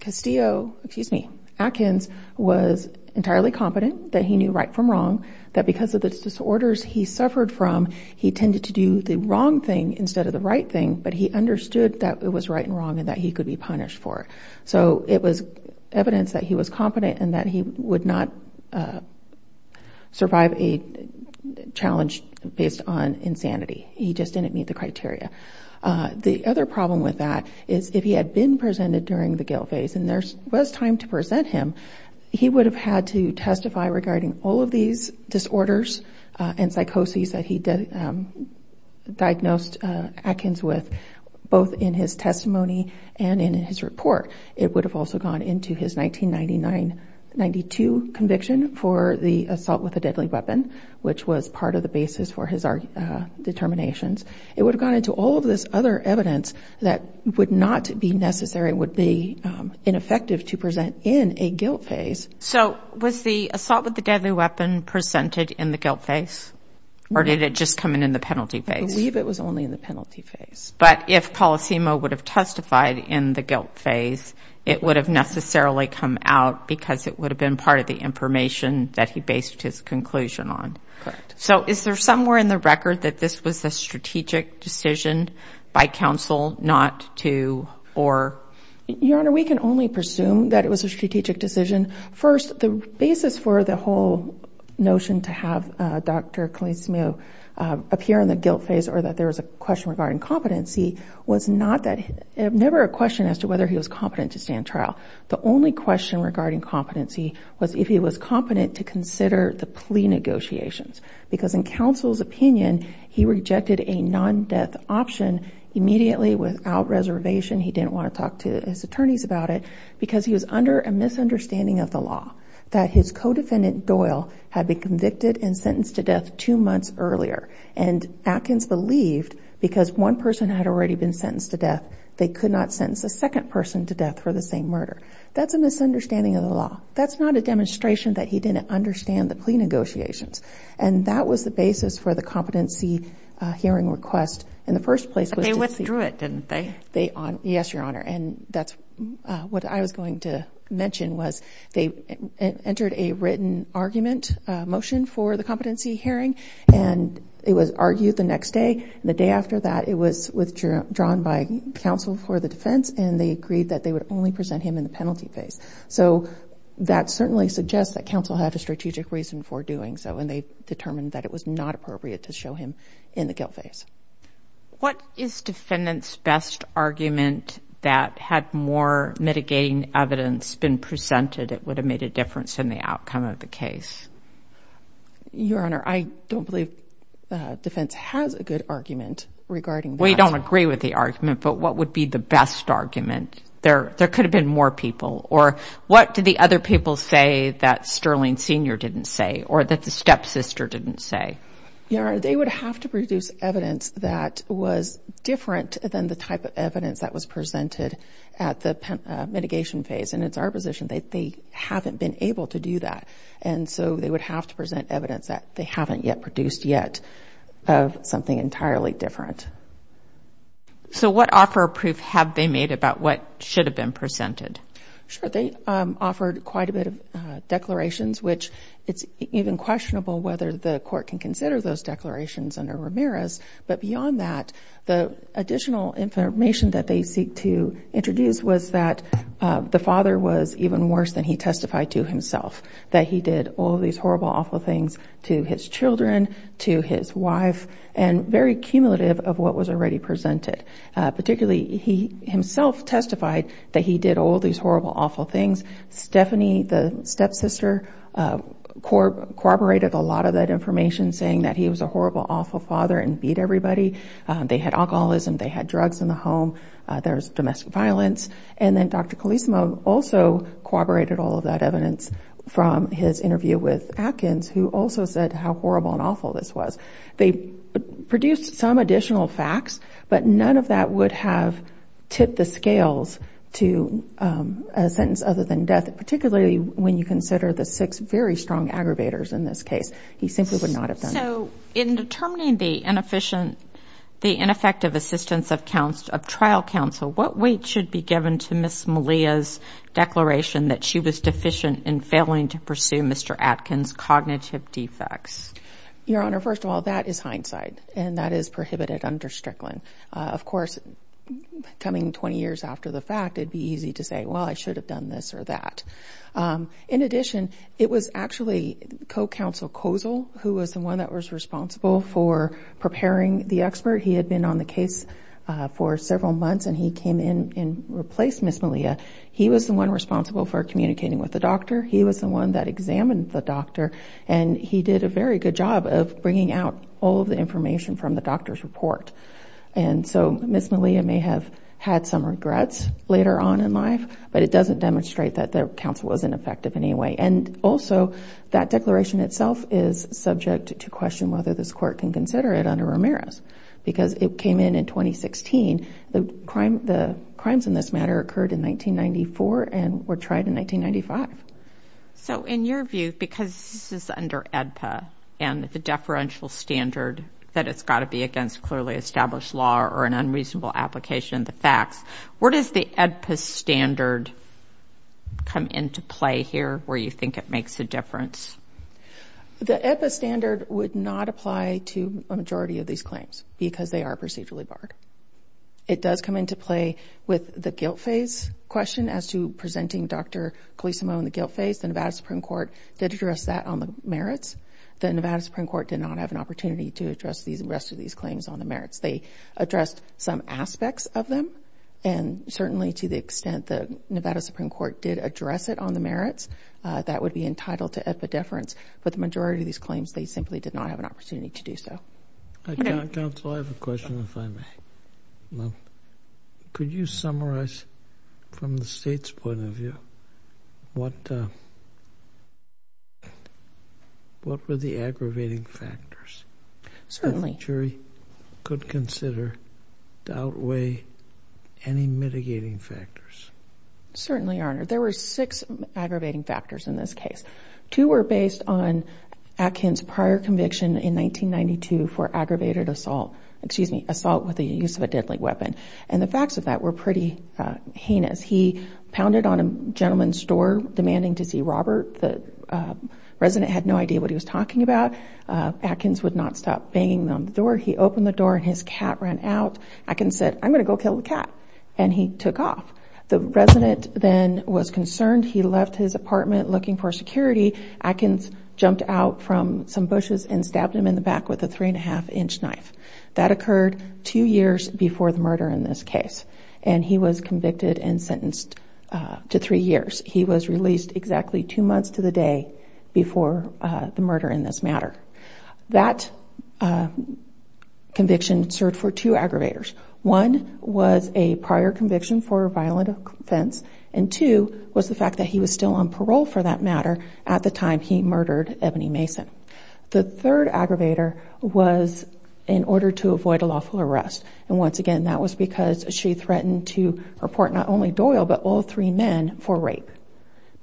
Castillo, excuse me, Atkins was entirely confident that he knew right from wrong, that because of the disorders he suffered from, he tended to do the wrong thing instead of the right thing, but he understood that it was right and wrong and that he could be punished for it. So it was evidence that he was confident and that he would not survive a challenge based on insanity. He just didn't meet the criteria. The other problem with that is if he had been presented during the guilt phase and there was time to present him, he would have had to testify regarding all of these disorders and psychoses that he diagnosed Atkins with, both in his testimony and in his report. It would have also gone into his 1999-92 conviction for the assault with a deadly weapon, which was part of the basis for his determinations. It would have gone into all of this other evidence that would not be necessary, would be ineffective to present in a guilt phase. So was the assault with a deadly weapon presented in the guilt phase or did it just come in in the penalty phase? I believe it was only in the penalty phase. But if Polisimo would have testified in the guilt phase, it would have necessarily come out because it would have been part of the information that he based his conclusion on. Correct. So is there somewhere in the record that this was a strategic decision by counsel not to or? Your Honor, we can only presume that it was a strategic decision. First, the basis for the whole notion to have Dr. Polisimo appear in the guilt phase or that there was a question regarding competency was not that, never a question as to whether he was competent to stand trial. The only question regarding competency was if he was competent to consider the plea negotiations. Because in counsel's opinion, he rejected a non-death option immediately without reservation. He didn't want to talk to his attorneys about it because he was under a misunderstanding of the law that his co-defendant, Doyle, had been convicted and sentenced to death two months earlier. And Atkins believed because one person had already been sentenced to death, they could not sentence a second person to death for the same murder. That's a misunderstanding of the law. That's not a demonstration that he didn't understand the plea negotiations. And that was the basis for the competency hearing request in the first place. But they withdrew it, didn't they? Yes, Your Honor, and that's what I was going to mention was they entered a written argument motion for the competency hearing and it was argued the next day. And the day after that, it was withdrawn by counsel for the defense and they agreed that they would only present him in the penalty phase. So that certainly suggests that counsel had a strategic reason for doing so and they determined that it was not appropriate to show him in the guilt phase. What is defendant's best argument that had more mitigating evidence been presented, it would have made a difference in the outcome of the case? Your Honor, I don't believe defense has a good argument regarding that. We don't agree with the argument, but what would be the best argument? There could have been more people. Or what did the other people say that Sterling Sr. didn't say? Or that the stepsister didn't say? Your Honor, they would have to produce evidence that was different than the type of evidence that was presented at the mitigation phase. And it's our position that they haven't been able to do that. And so they would have to present evidence that they haven't yet produced yet of something entirely different. So what offer of proof have they made about what should have been presented? Sure, they offered quite a bit of declarations, which it's even questionable whether the court can consider those declarations under Ramirez. But beyond that, the additional information that they seek to introduce was that the father was even worse than he testified to himself. That he did all these horrible, awful things to his children, to his wife, and very cumulative of what was already presented. Particularly, he himself testified that he did all these horrible, awful things. Stephanie, the stepsister, corroborated a lot of that information, saying that he was a horrible, awful father and beat everybody. They had alcoholism, they had drugs in the home, there was domestic violence. And then Dr. Colisimo also corroborated all of that evidence from his interview with Atkins, who also said how horrible and awful this was. They produced some additional facts, but none of that would have tipped the scales to a sentence other than death, particularly when you consider the six very strong aggravators in this case. He simply would not have done that. In determining the ineffective assistance of trial counsel, what weight should be given to Ms. Malia's declaration that she was deficient in failing to pursue Mr. Atkins' cognitive defects? Your Honor, first of all, that is hindsight, and that is prohibited under Strickland. Of course, coming 20 years after the fact, it would be easy to say, well, I should have done this or that. In addition, it was actually co-counsel Kozol who was the one that was responsible for preparing the expert. He had been on the case for several months, and he came in and replaced Ms. Malia. He was the one responsible for communicating with the doctor. He was the one that examined the doctor, and he did a very good job of bringing out all of the information from the doctor's report. And so Ms. Malia may have had some regrets later on in life, but it doesn't demonstrate that the counsel wasn't effective in any way. And also, that declaration itself is subject to question whether this Court can consider it under Ramirez, because it came in in 2016. The crimes in this matter occurred in 1994 and were tried in 1995. So in your view, because this is under AEDPA and the deferential standard that it's got to be against clearly established law or an unreasonable application of the facts, where does the AEDPA standard come into play here, where you think it makes a difference? The AEDPA standard would not apply to a majority of these claims, because they are procedurally barred. It does come into play with the guilt phase question as to presenting Dr. Colisimo in the guilt phase. The Nevada Supreme Court did address that on the merits. The Nevada Supreme Court did not have an opportunity to address the rest of these claims on the They addressed some aspects of them, and certainly to the extent the Nevada Supreme Court did address it on the merits, that would be entitled to epidefference. But the majority of these claims, they simply did not have an opportunity to do so. Counsel, I have a question if I may. Could you summarize from the State's point of view, what were the aggravating factors the jury could consider to outweigh any mitigating factors? Certainly Your Honor. There were six aggravating factors in this case. Two were based on Atkins' prior conviction in 1992 for aggravated assault, excuse me, assault with the use of a deadly weapon. And the facts of that were pretty heinous. He pounded on a gentleman's door demanding to see Robert. The resident had no idea what he was talking about. Atkins would not stop banging on the door. He opened the door and his cat ran out. Atkins said, I'm going to go kill the cat. And he took off. The resident then was concerned. He left his apartment looking for security. Atkins jumped out from some bushes and stabbed him in the back with a three and a half inch knife. That occurred two years before the murder in this case. And he was convicted and sentenced to three years. He was released exactly two months to the day before the murder in this matter. That conviction served for two aggravators. One was a prior conviction for violent offense. And two was the fact that he was still on parole for that matter at the time he murdered Ebony Mason. The third aggravator was in order to avoid a lawful arrest. And once again, that was because she threatened to report not only Doyle, but all three men for rape.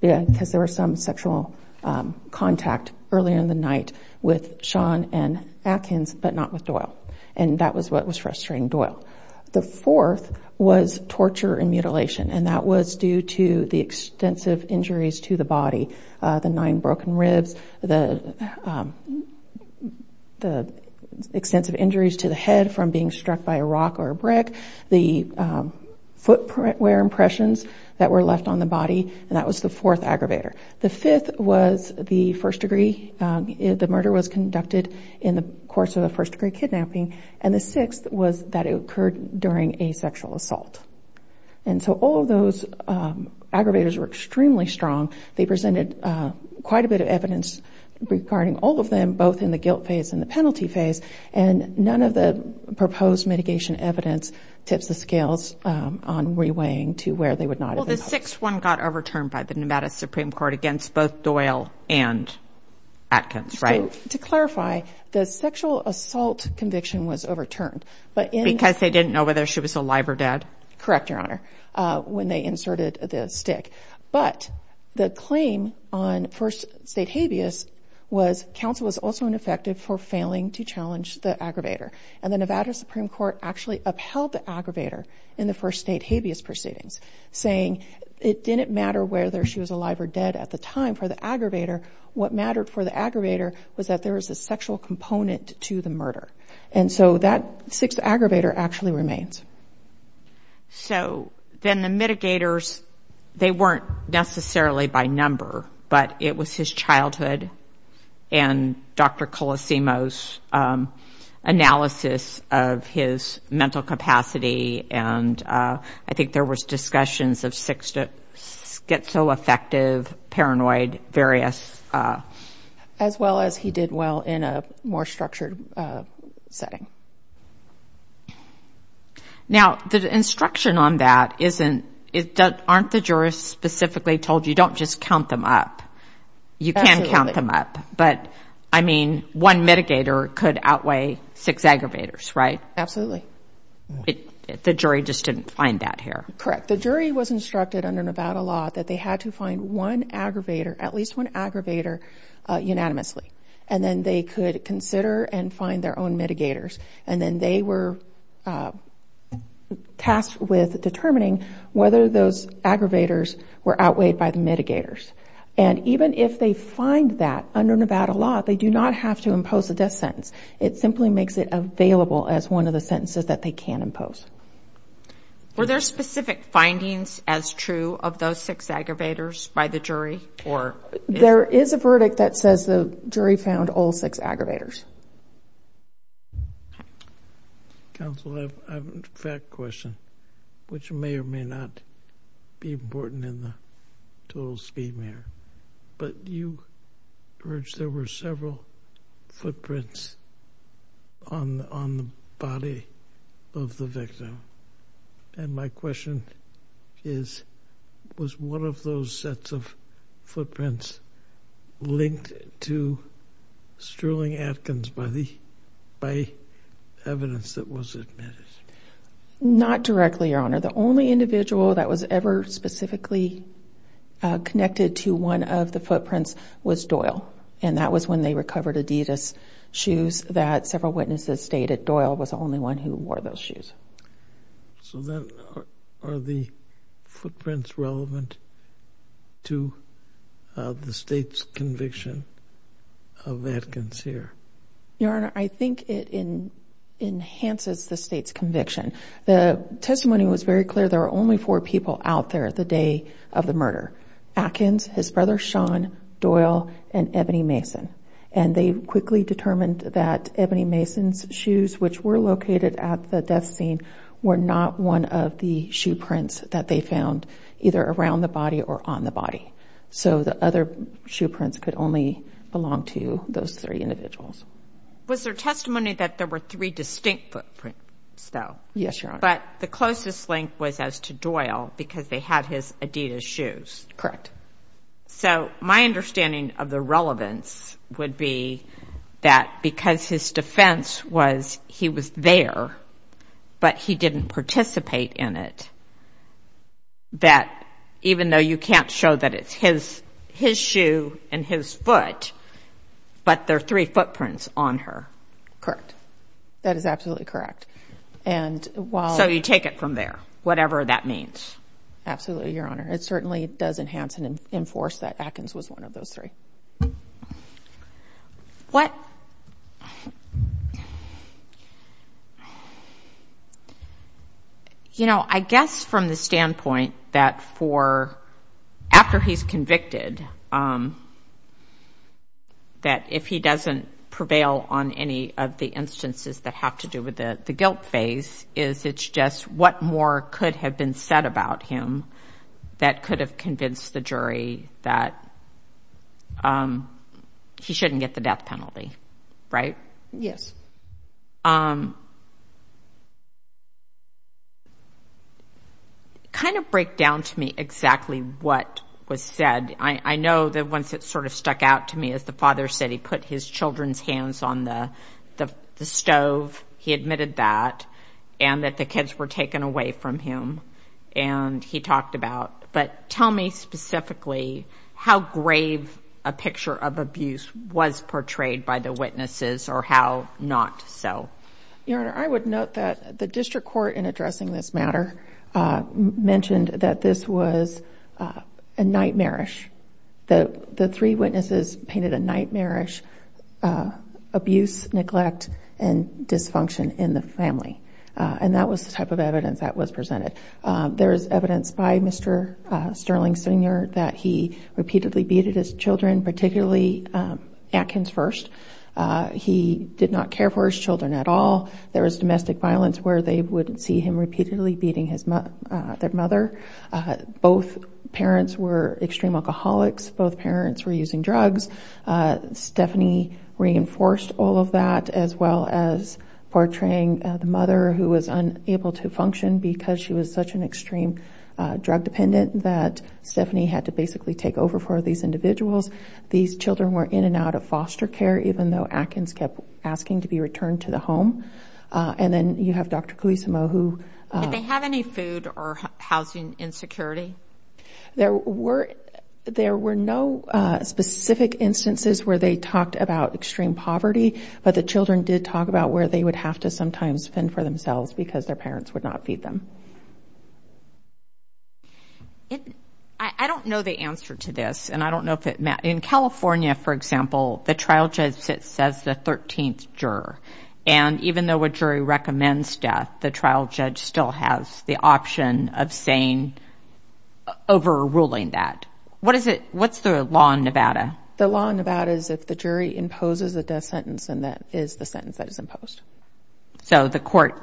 Yeah, because there was some sexual contact earlier in the night with Sean and Atkins, but not with Doyle. And that was what was frustrating Doyle. The fourth was torture and mutilation. And that was due to the extensive injuries to the body. The nine broken ribs, the extensive injuries to the head from being struck by a rock or brick, the footwear impressions that were left on the body. And that was the fourth aggravator. The fifth was the first degree. The murder was conducted in the course of the first degree kidnapping. And the sixth was that it occurred during a sexual assault. And so all of those aggravators were extremely strong. They presented quite a bit of evidence regarding all of them, both in the guilt phase and the penalty phase. And none of the proposed mitigation evidence tips the scales on reweighing to where they would not have been held. Well, the sixth one got overturned by the Nevada Supreme Court against both Doyle and Atkins, right? To clarify, the sexual assault conviction was overturned. Because they didn't know whether she was alive or dead? Correct, Your Honor. When they inserted the stick. But the claim on first state habeas was counsel was also ineffective for failing to challenge the aggravator. And the Nevada Supreme Court actually upheld the aggravator in the first state habeas proceedings, saying it didn't matter whether she was alive or dead at the time for the aggravator. What mattered for the aggravator was that there was a sexual component to the murder. And so that sixth aggravator actually remains. So then the mitigators, they weren't necessarily by number. But it was his childhood and Dr. Colosimo's analysis of his mental capacity. And I think there was discussions of schizoaffective, paranoid, various... As well as he did well in a more structured setting. Now the instruction on that isn't... Aren't the jurors specifically told you don't just count them up? You can count them up. But I mean, one mitigator could outweigh six aggravators, right? Absolutely. The jury just didn't find that here. Correct. The jury was instructed under Nevada law that they had to find one aggravator, at least one aggravator, unanimously. And then they could consider and find their own mitigators. And then they were tasked with determining whether those aggravators were outweighed by the mitigators. And even if they find that under Nevada law, they do not have to impose a death sentence. It simply makes it available as one of the sentences that they can impose. Were there specific findings as true of those six aggravators by the jury? There is a verdict that says the jury found all six aggravators. Counsel, I have a fact question, which may or may not be important in the total speed matter. But you urged there were several footprints on the body of the victim. And my question is, was one of those sets of footprints linked to Sterling Atkins by evidence that was admitted? Not directly, Your Honor. The only individual that was ever specifically connected to one of the footprints was Doyle. And that was when they recovered Adidas shoes that several witnesses stated Doyle was the only one who wore those shoes. So then, are the footprints relevant to the state's conviction of Atkins here? Your Honor, I think it enhances the state's conviction. The testimony was very clear. There were only four people out there the day of the murder. Atkins, his brother Sean, Doyle, and Ebony Mason. And they quickly determined that Ebony Mason's shoes, which were located at the death scene, were not one of the shoe prints that they found either around the body or on the body. So the other shoe prints could only belong to those three individuals. Was there testimony that there were three distinct footprints, though? Yes, Your Honor. But the closest link was as to Doyle, because they had his Adidas shoes? Correct. So my understanding of the relevance would be that because his defense was he was there, but he didn't participate in it, that even though you can't show that it's his shoe and his foot, but there are three footprints on her. That is absolutely correct. And while... So you take it from there, whatever that means. Absolutely, Your Honor. It certainly does enhance and enforce that Atkins was one of those three. What... You know, I guess from the standpoint that for after he's convicted, that if he doesn't prevail on any of the instances that have to do with the guilt phase, is it's just what more could have been said about him that could have convinced the jury that he shouldn't get the death penalty, right? Yes. Kind of break down to me exactly what was said. I know that once it sort of stuck out to me as the father said he put his children's hands on the stove. He admitted that and that the kids were taken away from him and he talked about, but tell me specifically how grave a picture of abuse was portrayed by the witnesses or how not so. Your Honor, I would note that the district court in addressing this matter mentioned that this was a nightmarish. The three witnesses painted a nightmarish abuse, neglect, and dysfunction in the family. And that was the type of evidence that was presented. There's evidence by Mr. Sterling Sr. that he repeatedly beat his children, particularly Atkins first. He did not care for his children at all. There was domestic violence where they would see him repeatedly beating their mother. Both parents were extreme alcoholics. Both parents were using drugs. Stephanie reinforced all of that as well as portraying the mother who was unable to function because she was such an extreme drug dependent that Stephanie had to basically take over for these individuals. These children were in and out of foster care even though Atkins kept asking to be returned to the home. And then you have Dr. Guisimo who... Did they have any food or housing insecurity? There were no specific instances where they talked about extreme poverty, but the children did talk about where they would have to sometimes fend for themselves because their parents would not feed them. I don't know the answer to this. And I don't know if it... In California, for example, the trial judge says the 13th juror. And even though a jury recommends death, the trial judge still has the option of saying overruling that. What is it... What's the law in Nevada? The law in Nevada is if the jury imposes a death sentence, then that is the sentence that is imposed. So the court...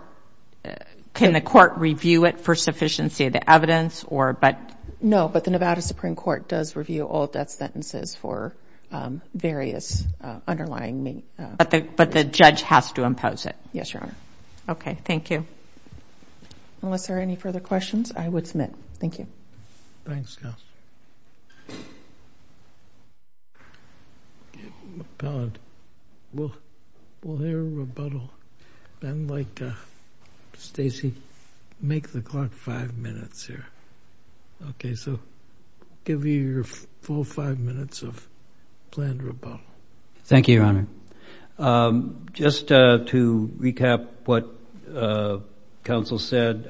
Can the court review it for sufficiency of the evidence or... No, but the Nevada Supreme Court does review all death sentences for various underlying... But the judge has to impose it. Yes, Your Honor. Okay. Thank you. Unless there are any further questions, I would submit. Thank you. Thanks, Counsel. Appellant, we'll hear a rebuttal, then like Stacy, make the clock five minutes here. Okay. So give me your full five minutes of planned rebuttal. Thank you, Your Honor. Just to recap what Counsel said,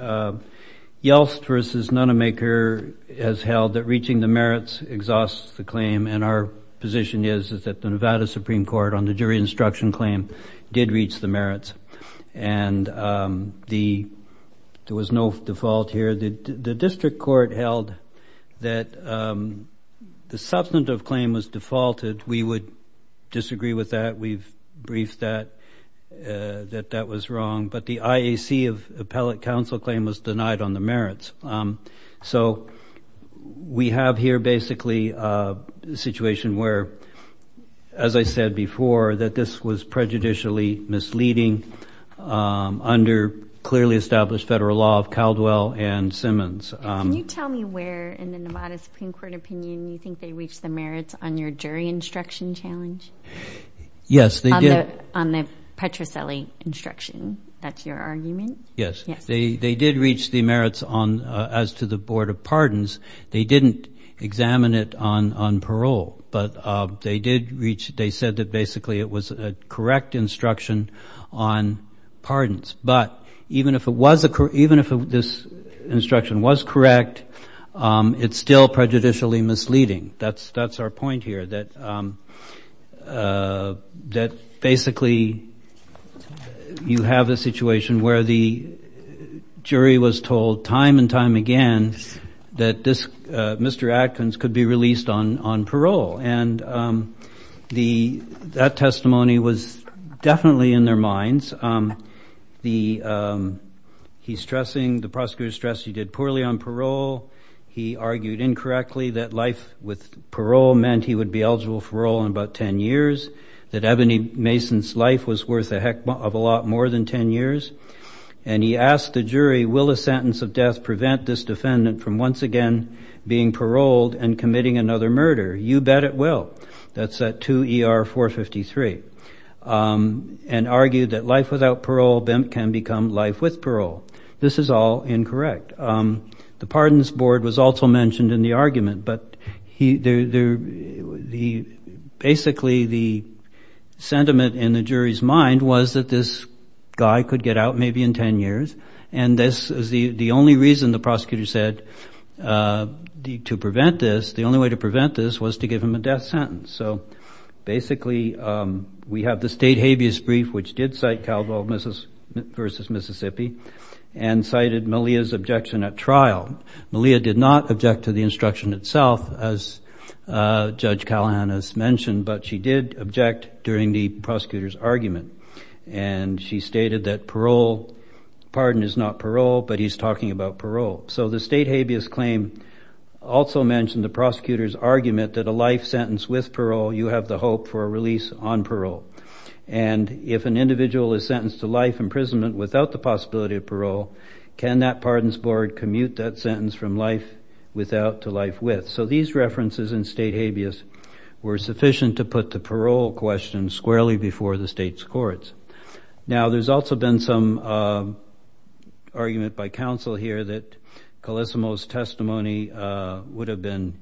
Yeltsin v. Nonemaker has held that reaching the merits exhausts the claim, and our position is that the Nevada Supreme Court on the jury instruction claim did reach the merits. And there was no default here. The district court held that the substantive claim was defaulted. We would disagree with that. We've briefed that, that that was wrong, but the IAC of appellate counsel claim was denied on the merits. So we have here basically a situation where, as I said before, that this was prejudicially misleading, under clearly established federal law of Caldwell and Simmons. Can you tell me where in the Nevada Supreme Court opinion you think they reached the merits on your jury instruction challenge? Yes, they did. On the Petrocelli instruction, that's your argument? Yes. They did reach the merits on, as to the board of pardons. They didn't examine it on parole, but they did reach, they said that basically it was a correct instruction on pardons. But even if this instruction was correct, it's still prejudicially misleading. That's our point here, that basically you have a situation where the jury was told time and time again that Mr. Adkins could be released on parole. And that testimony was definitely in their minds. He's stressing, the prosecutor stressed he did poorly on parole. He argued incorrectly that life with parole meant he would be eligible for parole in about 10 years, that Ebony Mason's life was worth a heck of a lot more than 10 years. And he asked the jury, will a sentence of death prevent this defendant from once again being paroled and committing another murder? You bet it will. That's at 2 ER 453. And argued that life without parole can become life with parole. This is all incorrect. The pardons board was also mentioned in the argument, but basically the sentiment in the jury's mind was that this guy could get out maybe in 10 years. And this is the only reason the prosecutor said to prevent this, the only way to prevent this was to give him a death sentence. So basically we have the state habeas brief, which did cite Caldwell versus Mississippi and cited Malia's objection at trial. Malia did not object to the instruction itself as Judge Callahan has mentioned, but she did object during the prosecutor's argument. And she stated that parole, pardon is not parole, but he's talking about parole. So the state habeas claim also mentioned the prosecutor's argument that a life sentence with parole, you have the hope for a release on parole. And if an individual is sentenced to life imprisonment without the possibility of parole, can that pardons board commute that sentence from life without to life with? So these references in state habeas were sufficient to put the parole question squarely before the state's courts. Now there's also been some argument by counsel here that Calissimo's testimony would have been,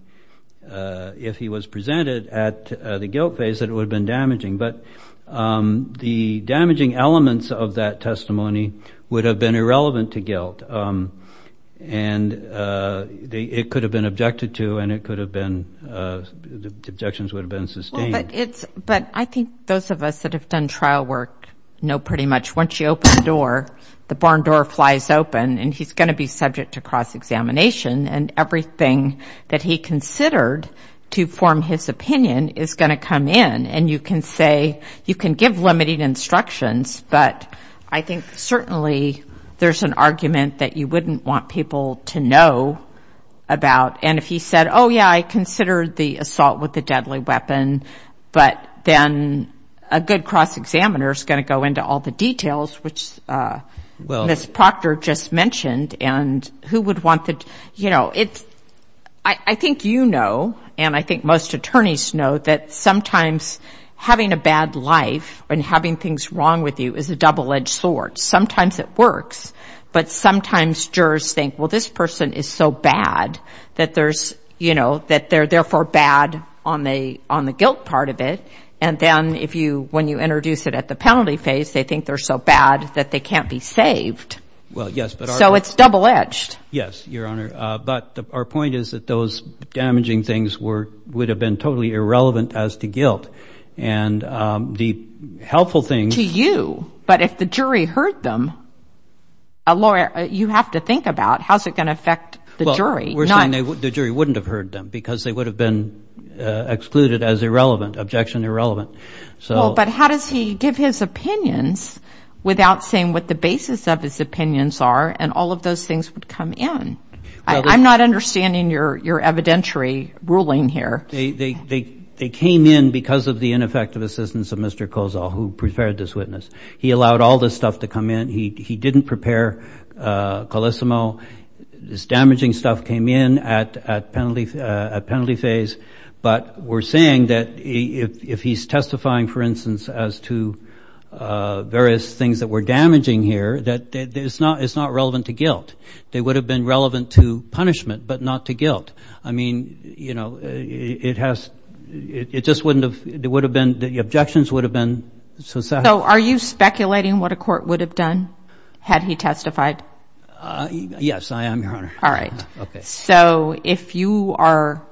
if he was presented at the guilt phase, that it would have been damaging. But the damaging elements of that testimony would have been irrelevant to guilt. And it could have been objected to and it could have been, the objections would have been sustained. Well, but it's, but I think those of us that have done trial work know pretty much once you open the door, the barn door flies open and he's going to be subject to cross-examination and everything that he considered to form his opinion is going to come in. And you can say, you can give limited instructions, but I think certainly there's an argument that you wouldn't want people to know about. And if he said, oh yeah, I considered the assault with a deadly weapon, but then a good cross-examiner is going to go into all the details, which Ms. Proctor just mentioned and who would want the, you know, it's, I think you know, and I think most attorneys know that sometimes having a bad life and having things wrong with you is a double-edged sword. Sometimes it works, but sometimes jurors think, well, this person is so bad that there's, you know, that they're therefore bad on the guilt part of it. And then if you, when you introduce it at the penalty phase, they think they're so bad that they can't be saved. Well, yes, but our- So it's double-edged. Yes, Your Honor. But our point is that those damaging things were, would have been totally irrelevant as to guilt. And the helpful thing- To you. But if the jury heard them, a lawyer, you have to think about how's it going to affect the jury. Well, we're saying the jury wouldn't have heard them because they would have been excluded as irrelevant, objection irrelevant. So- Well, but how does he give his opinions without saying what the basis of his opinions are and all of those things would come in? I'm not understanding your evidentiary ruling here. They came in because of the ineffective assistance of Mr. Kozol, who prepared this witness. He allowed all this stuff to come in. He didn't prepare Colissimo. This damaging stuff came in at penalty phase. But we're saying that if he's testifying, for instance, as to various things that were damaging here, that it's not relevant to guilt. They would have been relevant to punishment, but not to guilt. I mean, you know, it has, it just wouldn't have, it would have been, the objections would have been- So are you speculating what a court would have done had he testified? Yes, I am, Your Honor. All right. Okay. So if you are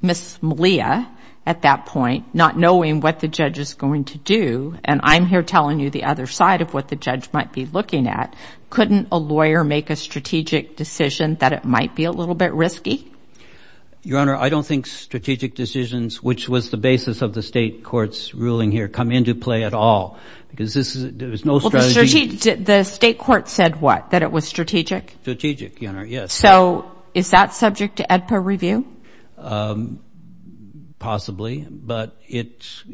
Ms. Malia at that point, not knowing what the judge is going to do, and I'm here telling you the other side of what the judge might be looking at, couldn't a lawyer make a strategic decision that it might be a little bit risky? Your Honor, I don't think strategic decisions, which was the basis of the state court's ruling here, come into play at all, because this is, there was no strategy- Well, the state court said what? That it was strategic? Strategic, Your Honor, yes. So is that subject to AEDPA review? Possibly, but it's,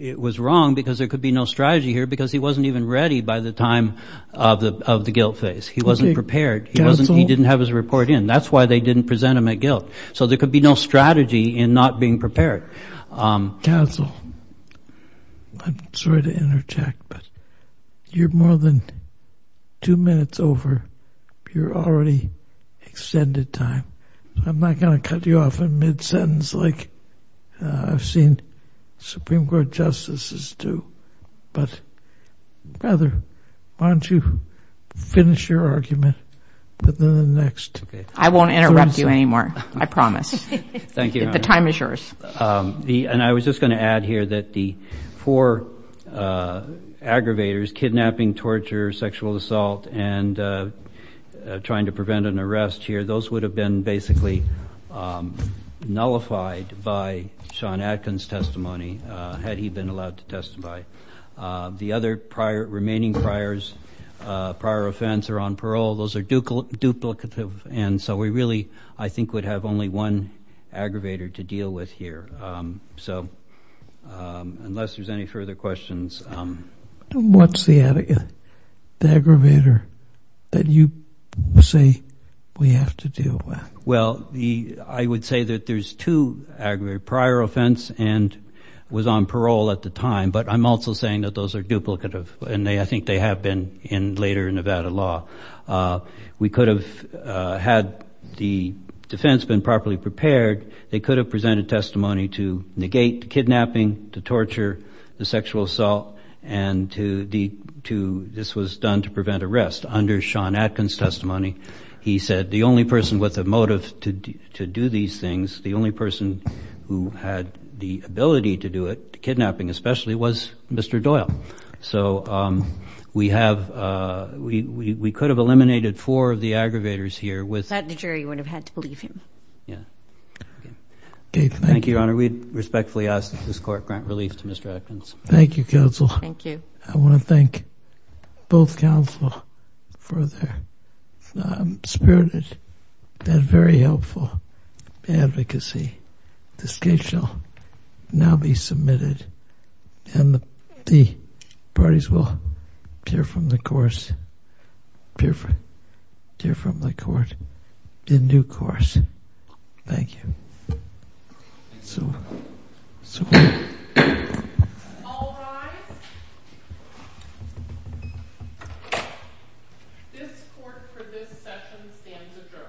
it was wrong because there could be no strategy here because he wasn't even ready by the time of the guilt phase. He wasn't prepared. He didn't have his report in. That's why they didn't present him at guilt. So there could be no strategy in not being prepared. Counsel, I'm sorry to interject, but you're more than two minutes over your already extended time. I'm not going to cut you off in mid-sentence like I've seen Supreme Court justices do, but rather, why don't you finish your argument within the next- I won't interrupt you anymore. I promise. Thank you, Your Honor. The time is yours. And I was just going to add here that the four aggravators, kidnapping, torture, sexual assault, and trying to prevent an arrest here, those would have been basically nullified by Sean Adkins' testimony had he been allowed to testify. The other prior, remaining priors, prior offense, or on parole, those are duplicative. And so we really, I think, would have only one aggravator to deal with here. So unless there's any further questions- What's the aggravator that you say we have to deal with? Well, I would say that there's two aggravators, prior offense and was on parole at the time. But I'm also saying that those are duplicative. And I think they have been in later Nevada law. We could have, had the defense been properly prepared, they could have presented testimony to negate the kidnapping, to torture, the sexual assault, and this was done to prevent arrest under Sean Adkins' testimony. He said the only person with a motive to do these things, the only person who had the ability to do it, the kidnapping especially, was Mr. Doyle. So we have, we could have eliminated four of the aggravators here with- That jury would have had to believe him. Okay. Thank you, Your Honor. We respectfully ask that this Court grant relief to Mr. Adkins. Thank you, counsel. Thank you. I want to thank both counsel for their spirited and very helpful advocacy. This case shall now be submitted and the parties will hear from the court in due course. Thank you. So, so- All rise. This Court for this session stands adjourned. Thank you.